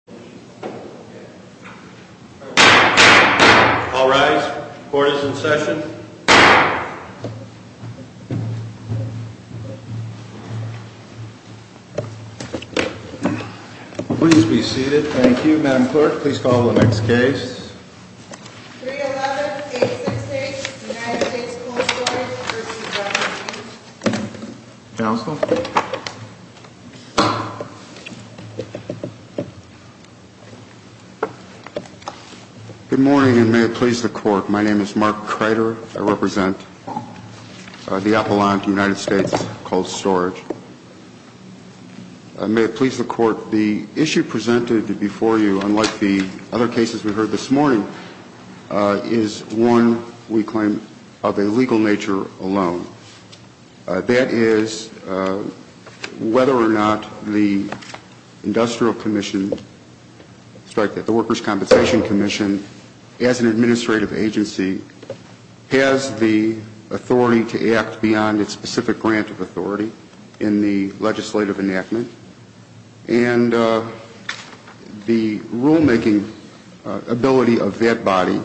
311-868 United States Cold Storage v. Workers' Compensation Comm'n Good Morning and may it please the Court. My name is Mark Kreider. I represent the Appalachian United States Cold Storage. May it please the Court, the issue presented before you, unlike the other cases we heard this morning, is one, we claim, of a legal nature alone. That is, whether or not the Industrial Commission, strike that, the Workers' Compensation Commission, as an administrative agency, has the authority to act beyond its specific grant of authority in the legislative enactment. And the rulemaking ability of that body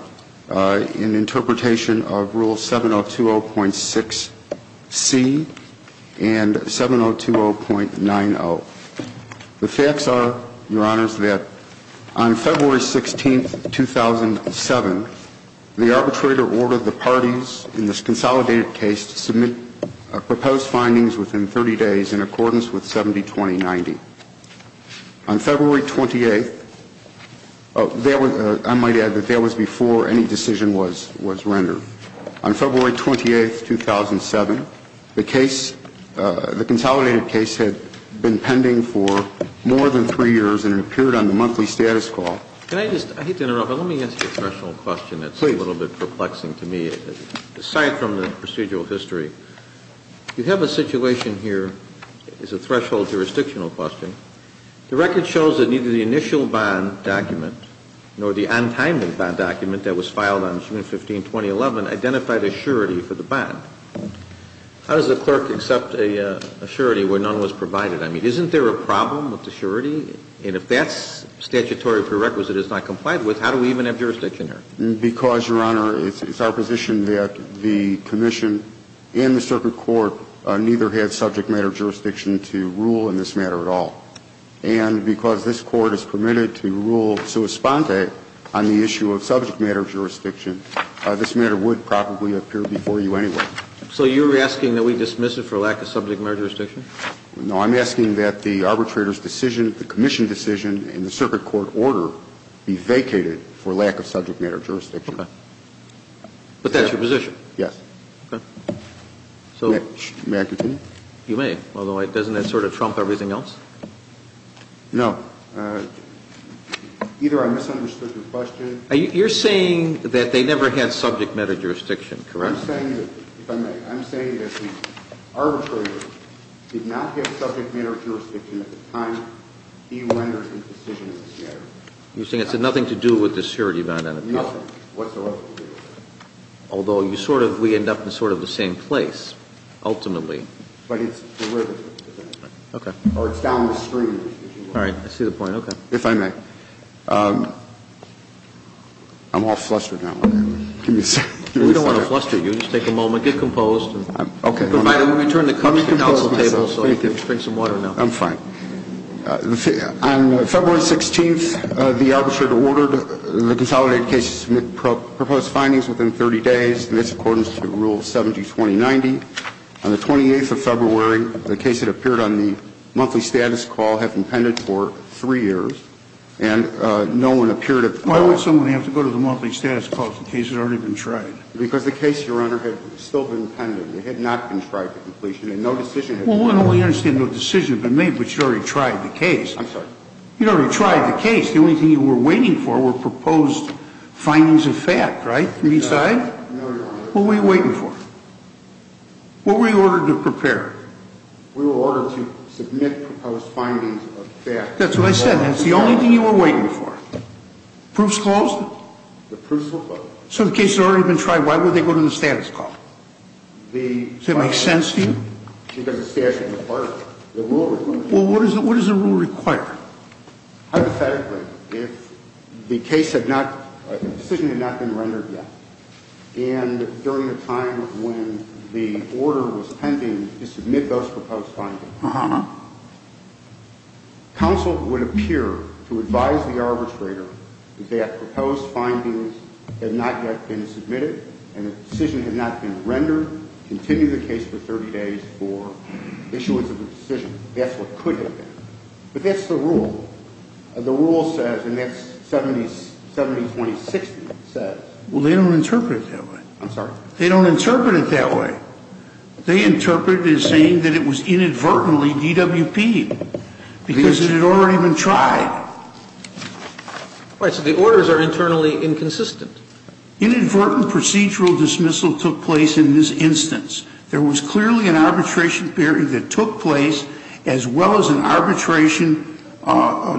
in interpretation of the Article 7020.90, the facts are, your Honors, that on February 16, 2007, the arbitrator ordered the parties in this consolidated case to submit a proposed findings within 30 days in accordance with 7020.90. On February 28th, I might add that that was before any decision was rendered. On February 28th, 2007, the case, the consolidated case had been pending for more than three years and it appeared on the monthly status call. Can I just, I hate to interrupt, but let me ask you a threshold question that's a little bit perplexing to me, aside from the procedural history. You have a situation here, it's a threshold jurisdictional question. The record shows that neither the initial bond document nor the untimely bond document that was filed on June 15, 2011, identified a surety for the bond. How does a clerk accept a surety where none was provided? I mean, isn't there a problem with the surety? And if that statutory prerequisite is not complied with, how do we even have jurisdiction here? Because, your Honor, it's our position that the Commission and the Circuit Court neither had subject matter jurisdiction to rule in this matter at all. And because this Court is permitted to rule sui sponte on the issue of subject matter jurisdiction, this matter would probably appear before you anyway. So you're asking that we dismiss it for lack of subject matter jurisdiction? No, I'm asking that the arbitrator's decision, the Commission decision, and the Circuit Court order be vacated for lack of subject matter jurisdiction. Okay. But that's your position? Yes. Okay. So May I continue? You may. Although, doesn't that sort of trump everything else? No. Either I misunderstood your question. You're saying that they never had subject matter jurisdiction, correct? I'm saying that the arbitrator did not have subject matter jurisdiction at the time he rendered his decision in this matter. You're saying it had nothing to do with the surety bond? Nothing whatsoever. Although, you sort of, we end up in sort of the same place, ultimately. But it's derivative to that. Okay. Or it's downstream. All right. I see the point. Okay. If I may. I'm all flustered now. We don't want to fluster you. Just take a moment. Get composed. Okay. Provided we return the cup to the council table so you can drink some water now. I'm fine. On February 16th, the arbitrator ordered the consolidated case to submit proposed findings within 30 days in accordance to Rule 70-2090. On the 28th of February, the case that appeared on the monthly status call had been pended for three years, and no one appeared at the court. Why would someone have to go to the monthly status call if the case had already been tried? Because the case, Your Honor, had still been pended. It had not been tried to completion, and no decision had been made. Well, we understand no decision had been made, but you already tried the case. I'm sorry? You already tried the case. Besides? No, Your Honor. What were you waiting for? What were you ordered to prepare? We were ordered to submit proposed findings of that. That's what I said. That's the only thing you were waiting for. Proofs closed? The proofs were closed. So the case had already been tried. Why would they go to the status call? Does that make sense to you? Well, what does the rule require? Hypothetically, if the decision had not been rendered yet, and during the time when the order was pending to submit those proposed findings, counsel would appear to advise the arbitrator that proposed findings had not yet been submitted, and if the decision had not been rendered, continue the case for 30 days for issuance of a decision. That's what could have been. But that's the rule. The rule says, and that's 70-20-60, says. Well, they don't interpret it that way. I'm sorry? They don't interpret it that way. They interpret it as saying that it was inadvertently DWP'd because it had already been tried. Right, so the orders are internally inconsistent. Inadvertent procedural dismissal took place in this instance. There was clearly an arbitration period that took place, as well as an arbitration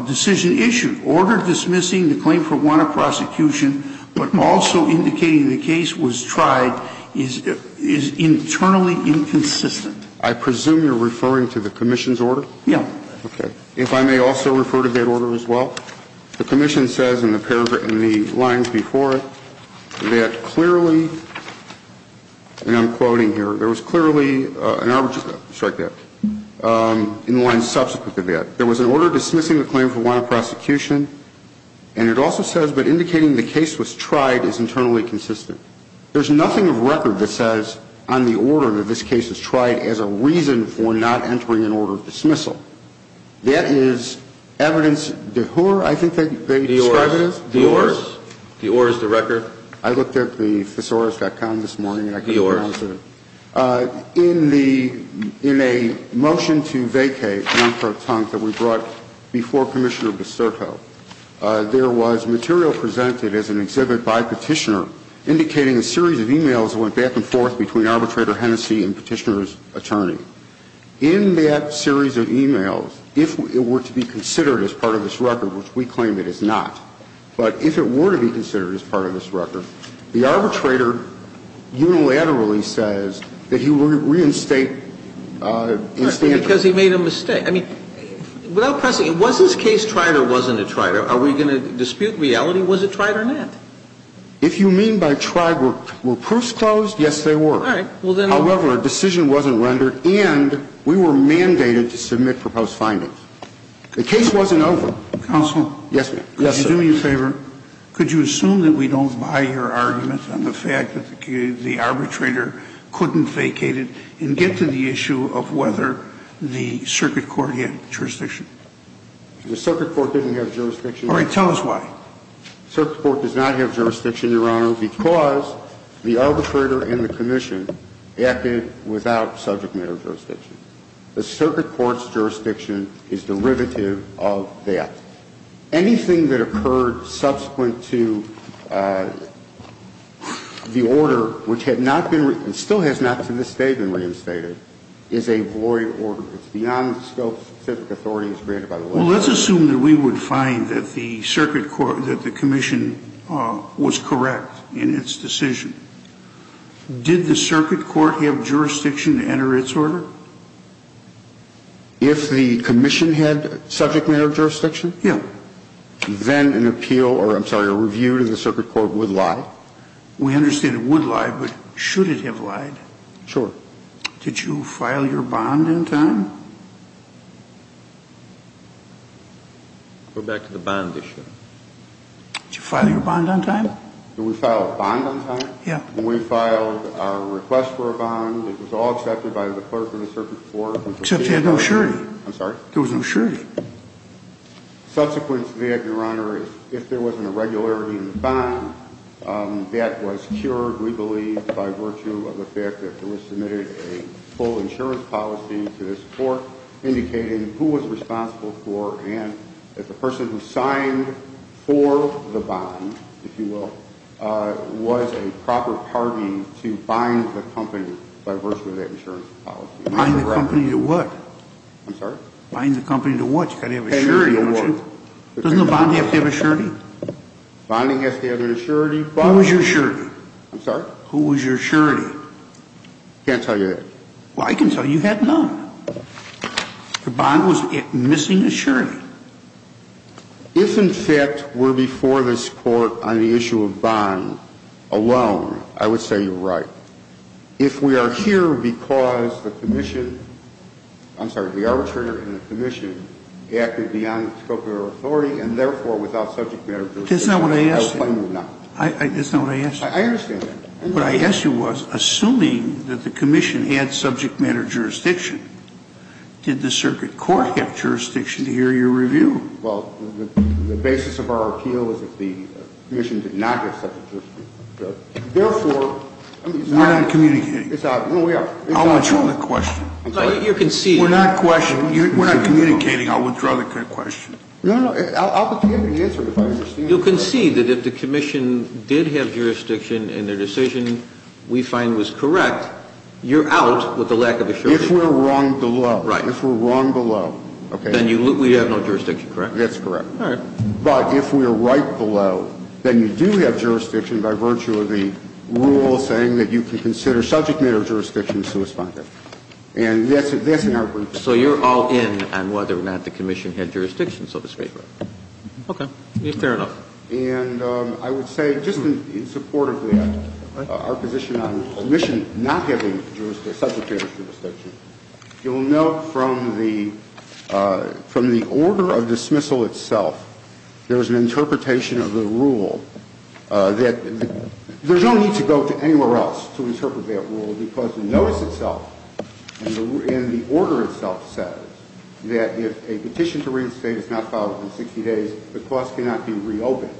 decision issued. Order dismissing the claim for one of prosecution, but also indicating the case was tried, is internally inconsistent. I presume you're referring to the commission's order? Yeah. Okay. If I may also refer to that order as well. The commission says in the lines before it that clearly, and I'm quoting here, there was clearly an arbitration, strike that, in the lines subsequent to that. There was an order dismissing the claim for one of prosecution, and it also says, but indicating the case was tried is internally consistent. There's nothing of record that says on the order that this case was tried as a reason for not entering an order of dismissal. That is evidence de hur, I think they describe it as. De ors. De ors. De ors, the record. I looked at the thesaurus.com this morning. De ors. In the, in a motion to vacate, non-pro-tunk, that we brought before Commissioner Biscerco, there was material presented as an exhibit by Petitioner, indicating a series of e-mails that went back and forth between Arbitrator Hennessey and Petitioner's attorney. In that series of e-mails, if it were to be considered as part of this record, which we claim it is not, but if it were to be considered as part of this record, the arbitrator unilaterally says that he would reinstate in standard. Because he made a mistake. I mean, without pressing it, was this case tried or wasn't it tried? Are we going to dispute reality? Was it tried or not? If you mean by tried, were proofs closed? Yes, they were. All right. However, a decision wasn't rendered, and we were mandated to submit proposed findings. The case wasn't over. Counsel. Yes, ma'am. Do me a favor. Could you assume that we don't buy your argument on the fact that the arbitrator couldn't vacate it and get to the issue of whether the circuit court had jurisdiction? The circuit court didn't have jurisdiction. All right. Tell us why. The circuit court does not have jurisdiction, Your Honor, because the arbitrator and the commission acted without subject matter jurisdiction. The circuit court's jurisdiction is derivative of that. Anything that occurred subsequent to the order, which had not been, and still has not to this day been reinstated, is a void order. It's beyond the scope of specific authorities granted by the law. Well, let's assume that we would find that the circuit court, that the commission was correct in its decision. Did the circuit court have jurisdiction to enter its order? If the commission had subject matter jurisdiction? Yeah. Then an appeal or, I'm sorry, a review to the circuit court would lie? We understand it would lie, but should it have lied? Sure. Did you file your bond on time? Go back to the bond issue. Did you file your bond on time? Yeah. We filed our request for a bond. It was all accepted by the clerk of the circuit court. Except it had no surety. I'm sorry? There was no surety. Subsequent to that, Your Honor, if there was an irregularity in the bond, that was cured, we believe, by virtue of the fact that there was submitted a full insurance policy to this court indicating who was responsible for and if the person who signed for the bond, if you will, was a proper party to bind the company by virtue of that insurance policy. Bind the company to what? I'm sorry? Bind the company to what? You've got to have a surety, don't you? Doesn't the bond have to have a surety? Bonding has to have an surety. Who was your surety? I'm sorry? Who was your surety? I can't tell you that. Well, I can tell you. You had none. The bond was missing a surety. If, in fact, we're before this court on the issue of bond alone, I would say you're right. If we are here because the commission, I'm sorry, the arbitrator and the commission acted beyond the scope of their authority and, therefore, without subject matter jurisdiction. That's not what I asked you. That's not what I asked you. I understand that. What I asked you was, assuming that the commission had subject matter jurisdiction, did the circuit court have jurisdiction to hear your review? Well, the basis of our appeal is that the commission did not have subject matter jurisdiction. Therefore, we're not communicating. I'll withdraw the question. You concede. We're not communicating. I'll withdraw the question. No, no. I'll continue to answer it if I understand. You concede that if the commission did have jurisdiction and their decision we find was correct, you're out with the lack of a surety. If we're wrong below. Right. If we're wrong below. Then we have no jurisdiction, correct? That's correct. All right. But if we're right below, then you do have jurisdiction by virtue of the rule saying that you can consider subject matter jurisdiction to respond to. And that's in our brief. So you're all in on whether or not the commission had jurisdiction, so to speak. Okay. Fair enough. And I would say, just in support of that, our position on the commission not having jurisdiction, subject matter jurisdiction, you'll note from the order of dismissal itself, there's an interpretation of the rule that there's no need to go to anywhere else to interpret that rule because the notice itself and the order itself says that if a petition to restate is not filed within 60 days, the clause cannot be reopened.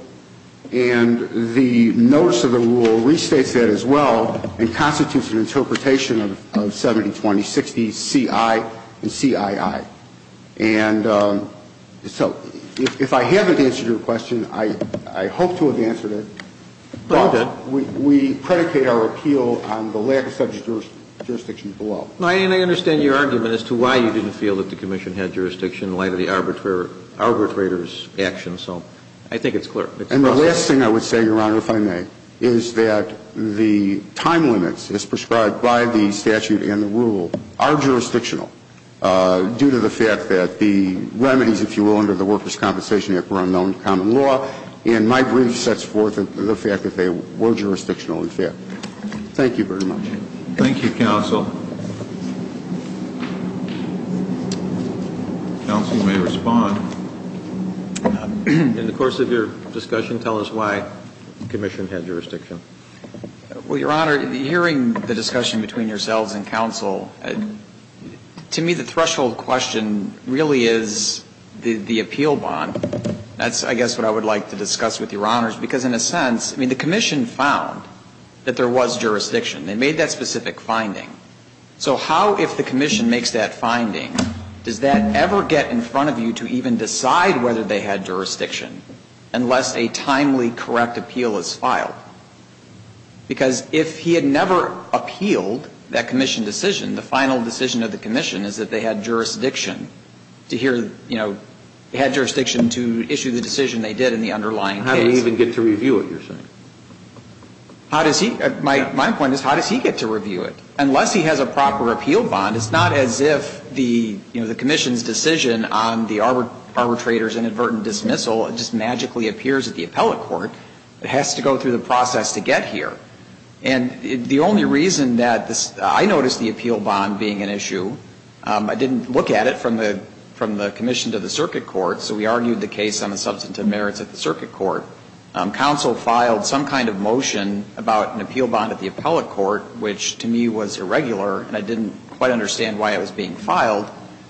And the notice of the rule restates that as well and constitutes an interpretation of 70-20-60-CI and CII. And so if I haven't answered your question, I hope to have answered it, but we predicate our appeal on the lack of subject jurisdiction below. And I understand your argument as to why you didn't feel that the commission had jurisdiction in light of the arbitrator's action. So I think it's clear. And the last thing I would say, Your Honor, if I may, is that the time limits as prescribed by the statute and the rule are jurisdictional due to the fact that the remedies, if you will, under the Workers' Compensation Act were unknown to common law. And my brief sets forth the fact that they were jurisdictional, in fact. Thank you very much. Thank you, counsel. Counsel may respond. In the course of your discussion, tell us why the commission had jurisdiction. Well, Your Honor, hearing the discussion between yourselves and counsel, to me the threshold question really is the appeal bond. That's, I guess, what I would like to discuss with Your Honors. Because in a sense, I mean, the commission found that there was jurisdiction. They made that specific finding. So how, if the commission makes that finding, does that ever get in front of you to even decide whether they had jurisdiction unless a timely correct appeal is filed? Because if he had never appealed that commission decision, the final decision of the commission is that they had jurisdiction to hear, you know, they had jurisdiction to issue the decision they did in the underlying case. How did he even get to review it, you're saying? How does he? My point is, how does he get to review it? Unless he has a proper appeal bond, it's not as if the, you know, the commission's decision on the arbitrator's inadvertent dismissal just magically appears at the appellate court. It has to go through the process to get here. And the only reason that this, I noticed the appeal bond being an issue. I didn't look at it from the commission to the circuit court, so we argued the case on the substantive merits at the circuit court. Counsel filed some kind of motion about an appeal bond at the appellate court, which to me was irregular, and I didn't quite understand why it was being filed.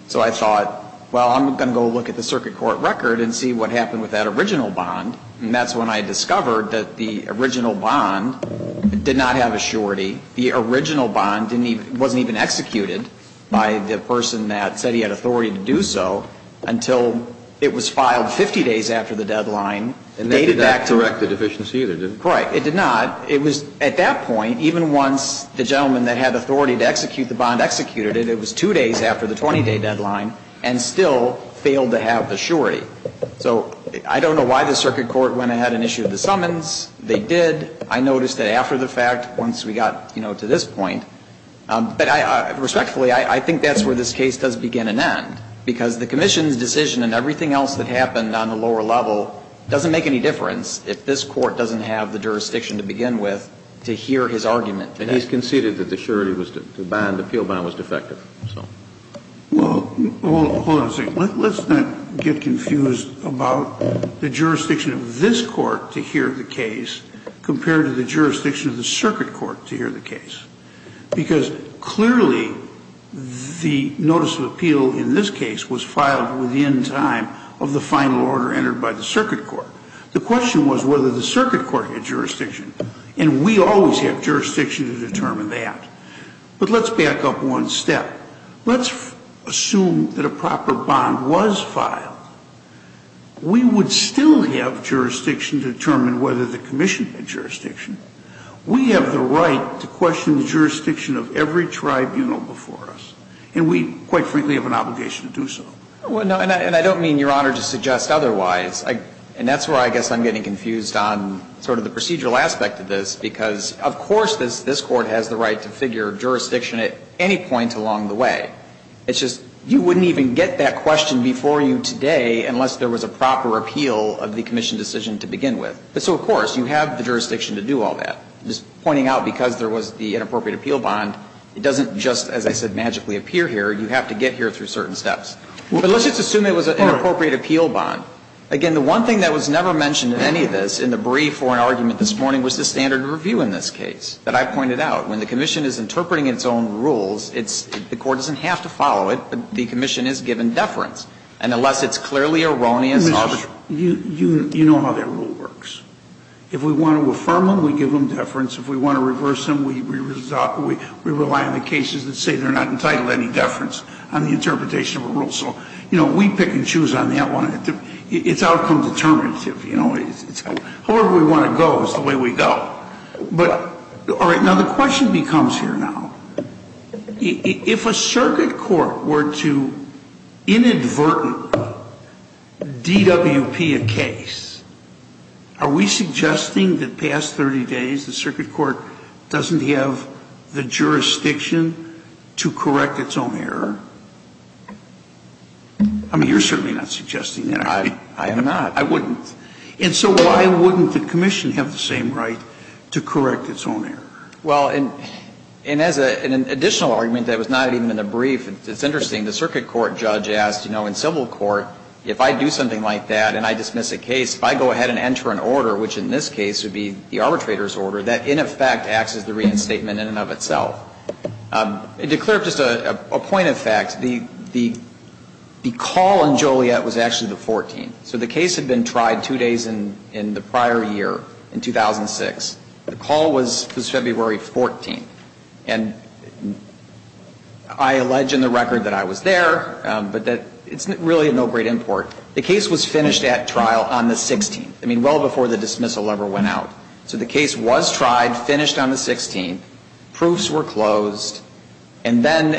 So I thought, well, I'm going to go look at the circuit court record and see what happened with that original bond. And that's when I discovered that the original bond did not have a surety. The original bond didn't even, wasn't even executed by the person that said he had authority to do so until it was filed 50 days after the deadline, dated back to. It did not correct the deficiency either, did it? Right. It did not. It was, at that point, even once the gentleman that had authority to execute the bond had executed it, it was two days after the 20-day deadline, and still failed to have the surety. So I don't know why the circuit court went ahead and issued the summons. They did. I noticed that after the fact, once we got, you know, to this point. But I, respectfully, I think that's where this case does begin and end, because the commission's decision and everything else that happened on the lower level doesn't make any difference if this Court doesn't have the jurisdiction to begin with to hear his argument. And he's conceded that the surety was, the bond, the appeal bond was defective. So. Well, hold on a second. Let's not get confused about the jurisdiction of this Court to hear the case compared to the jurisdiction of the circuit court to hear the case. Because clearly the notice of appeal in this case was filed within time of the final order entered by the circuit court. The question was whether the circuit court had jurisdiction. And we always have jurisdiction to determine that. But let's back up one step. Let's assume that a proper bond was filed. We would still have jurisdiction to determine whether the commission had jurisdiction. We have the right to question the jurisdiction of every tribunal before us. And we, quite frankly, have an obligation to do so. And I don't mean, Your Honor, to suggest otherwise. And that's where I guess I'm getting confused on sort of the procedural aspect of this, because of course this Court has the right to figure jurisdiction at any point along the way. It's just you wouldn't even get that question before you today unless there was a proper appeal of the commission decision to begin with. So, of course, you have the jurisdiction to do all that. Just pointing out because there was the inappropriate appeal bond, it doesn't just, as I said, magically appear here. You have to get here through certain steps. But let's just assume it was an inappropriate appeal bond. Again, the one thing that was never mentioned in any of this, in the brief or in argument this morning, was the standard of review in this case that I pointed out. When the commission is interpreting its own rules, it's the court doesn't have to follow it, but the commission is given deference. And unless it's clearly erroneous or ---- Scalia, you know how that rule works. If we want to affirm them, we give them deference. If we want to reverse them, we rely on the cases that say they're not entitled to any deference on the interpretation of a rule. So, you know, we pick and choose on that one. It's outcome determinative, you know. However we want to go is the way we go. But, all right, now the question becomes here now. If a circuit court were to inadvertently DWP a case, are we suggesting that past 30 days the circuit court doesn't have the jurisdiction to correct its own error? I mean, you're certainly not suggesting that. I am not. I wouldn't. And so why wouldn't the commission have the same right to correct its own error? Well, and as an additional argument that was not even in the brief, it's interesting, the circuit court judge asked, you know, in civil court, if I do something like that and I dismiss a case, if I go ahead and enter an order, which in this case would be the arbitrator's order, that in effect acts as the reinstatement in and of itself. To clear up just a point of fact, the call in Joliet was actually the 14th. So the case had been tried two days in the prior year, in 2006. The call was February 14th. And I allege in the record that I was there, but that it's really no great import. The case was finished at trial on the 16th. I mean, well before the dismissal ever went out. So the case was tried, finished on the 16th. Proofs were closed. And then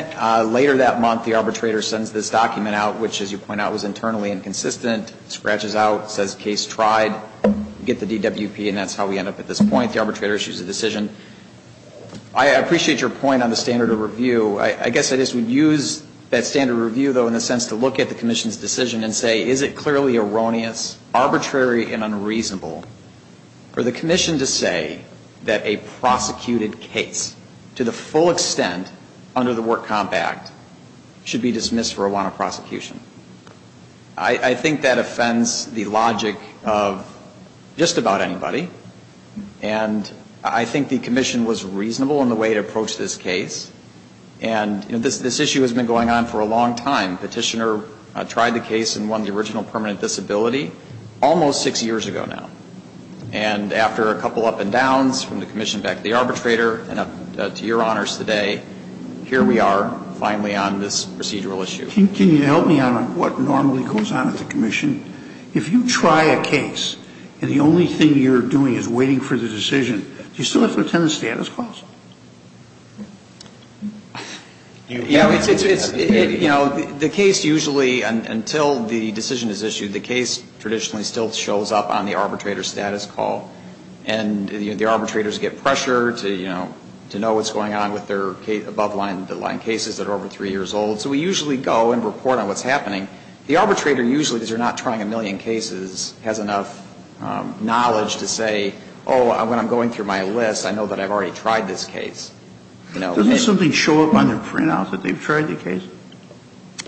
later that month, the arbitrator sends this document out, which, as you point out, was internally inconsistent, scratches out, says case tried, get the DWP, and that's how we end up at this point. The arbitrator issues a decision. I appreciate your point on the standard of review. I guess I just would use that standard of review, though, in the sense to look at the question, is it clearly erroneous, arbitrary and unreasonable for the commission to say that a prosecuted case, to the full extent under the Work Comp Act, should be dismissed for a warrant of prosecution? I think that offends the logic of just about anybody. And I think the commission was reasonable in the way it approached this case. And this issue has been going on for a long time. Petitioner tried the case and won the original permanent disability almost six years ago now. And after a couple up and downs from the commission back to the arbitrator and up to your honors today, here we are finally on this procedural issue. Can you help me on what normally goes on at the commission? If you try a case and the only thing you're doing is waiting for the decision, do you still have to attend the status clause? You know, the case usually, until the decision is issued, the case traditionally still shows up on the arbitrator's status call. And the arbitrators get pressure to, you know, to know what's going on with their above-the-line cases that are over three years old. So we usually go and report on what's happening. The arbitrator usually, because they're not trying a million cases, has enough knowledge to say, oh, when I'm going through my list, I know that I've already tried this case. Doesn't something show up on their printout that they've tried the case?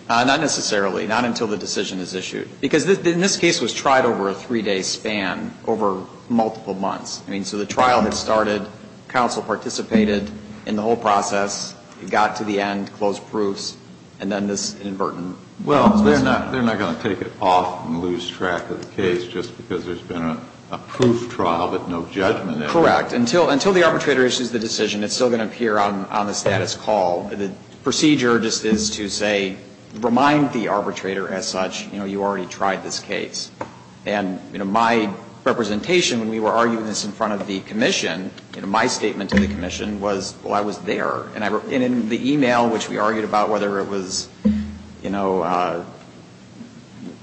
Not necessarily. Not until the decision is issued. Because this case was tried over a three-day span, over multiple months. I mean, so the trial had started, counsel participated in the whole process, got to the end, closed proofs, and then this inadvertent decision. Well, they're not going to take it off and lose track of the case just because there's been a proof trial but no judgment. Correct. Until the arbitrator issues the decision, it's still going to appear on the status call. The procedure just is to say, remind the arbitrator as such, you know, you already tried this case. And, you know, my representation when we were arguing this in front of the commission, you know, my statement to the commission was, well, I was there. And in the e-mail, which we argued about whether it was, you know,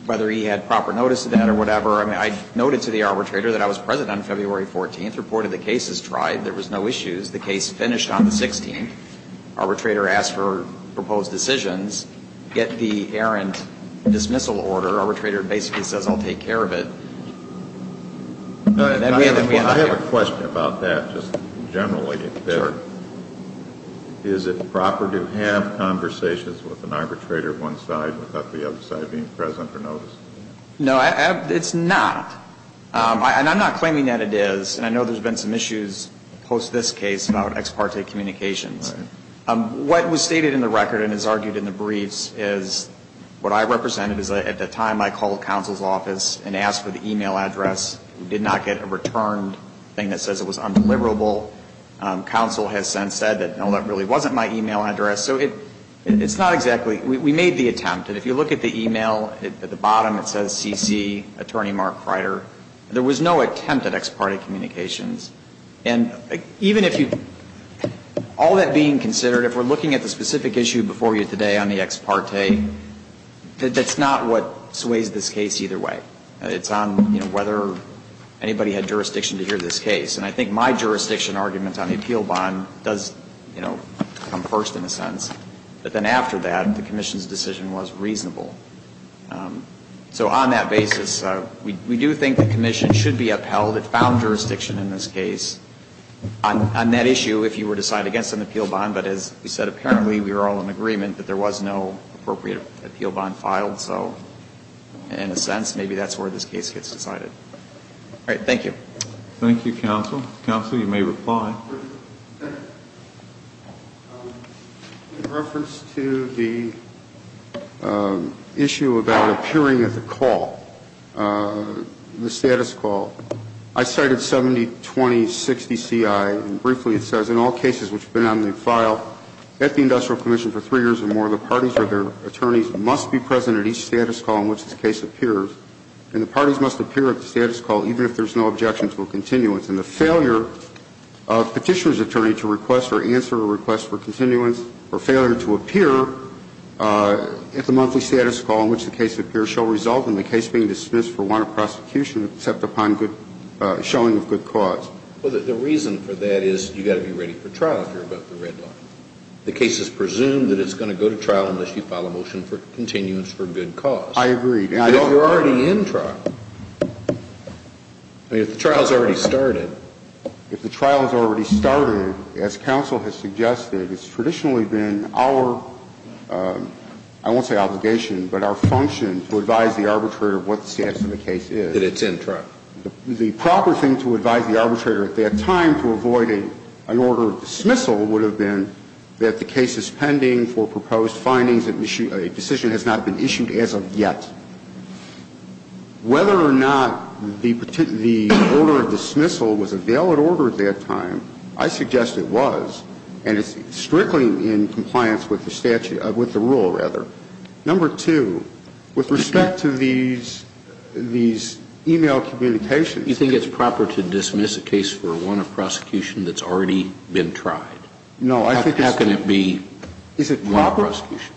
whether he had proper notice of that or whatever, I noted to the arbitrator that I was present on February 14th, reported the case as tried. There was no issues. The case finished on the 16th. Arbitrator asked for proposed decisions. Get the errant dismissal order. Arbitrator basically says, I'll take care of it. I have a question about that just generally. Is it proper to have conversations with an arbitrator one side without the other side being present or noticing? No, it's not. And I'm not claiming that it is. And I know there's been some issues post this case about ex parte communications. What was stated in the record and is argued in the briefs is what I represented is at the time I called counsel's office and asked for the e-mail address. We did not get a returned thing that says it was undeliverable. Counsel has since said that, no, that really wasn't my e-mail address. So it's not exactly we made the attempt. And if you look at the e-mail, at the bottom it says C.C. Attorney Mark Freider. There was no attempt at ex parte communications. And even if you, all that being considered, if we're looking at the specific issue before you today on the ex parte, that's not what sways this case either way. It's on, you know, whether anybody had jurisdiction to hear this case. And I think my jurisdiction argument on the appeal bond does, you know, come first in a sense. But then after that, the commission's decision was reasonable. So on that basis, we do think the commission should be upheld. It found jurisdiction in this case on that issue if you were to side against an appeal bond. But as we said, apparently we were all in agreement that there was no appropriate appeal bond filed. So in a sense, maybe that's where this case gets decided. All right. Thank you. Thank you, counsel. Counsel, you may reply. In reference to the issue about appearing at the call, the status call, I cited 70-20-60-CI. And briefly it says, in all cases which have been on the file at the Industrial Commission for three years or more, the parties or their attorneys must be present at each status call in which this case appears. And the parties must appear at the status call even if there's no objection to a continuance. And the failure of a petitioner's attorney to request or answer a request for continuance or failure to appear at the monthly status call in which the case appears shall result in the case being dismissed for warrant of prosecution except upon showing of good cause. Well, the reason for that is you've got to be ready for trial if you're about the red line. The case is presumed that it's going to go to trial unless you file a motion for I agree. But you're already in trial. I mean, if the trial's already started. If the trial's already started, as counsel has suggested, it's traditionally been our, I won't say obligation, but our function to advise the arbitrator of what the status of the case is. That it's in trial. The proper thing to advise the arbitrator at that time to avoid an order of dismissal would have been that the case is pending for proposed findings that a decision has not been issued as of yet. So I would suggest whether or not the order of dismissal was a valid order at that time, I suggest it was. And it's strictly in compliance with the rule, rather. Number two, with respect to these e-mail communications. You think it's proper to dismiss a case for warrant of prosecution that's already been tried? How can it be warrant of prosecution? Is it proper?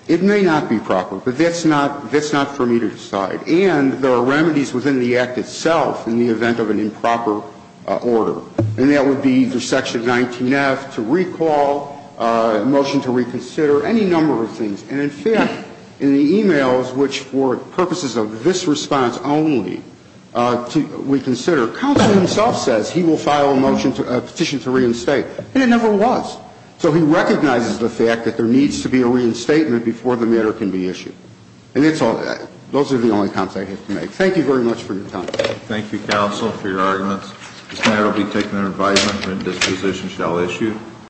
It may not be proper. But that's not, that's not for me to decide. And there are remedies within the act itself in the event of an improper order. And that would be through section 19-F to recall, motion to reconsider, any number of things. And in fact, in the e-mails, which for purposes of this response only, to reconsider, counsel himself says he will file a motion, a petition to reinstate. And it never was. So he recognizes the fact that there needs to be a reinstatement before the matter can be issued. And it's all that. Those are the only comments I have to make. Thank you very much for your time. Thank you, counsel, for your arguments. This matter will be taken under advisement and this position shall issue.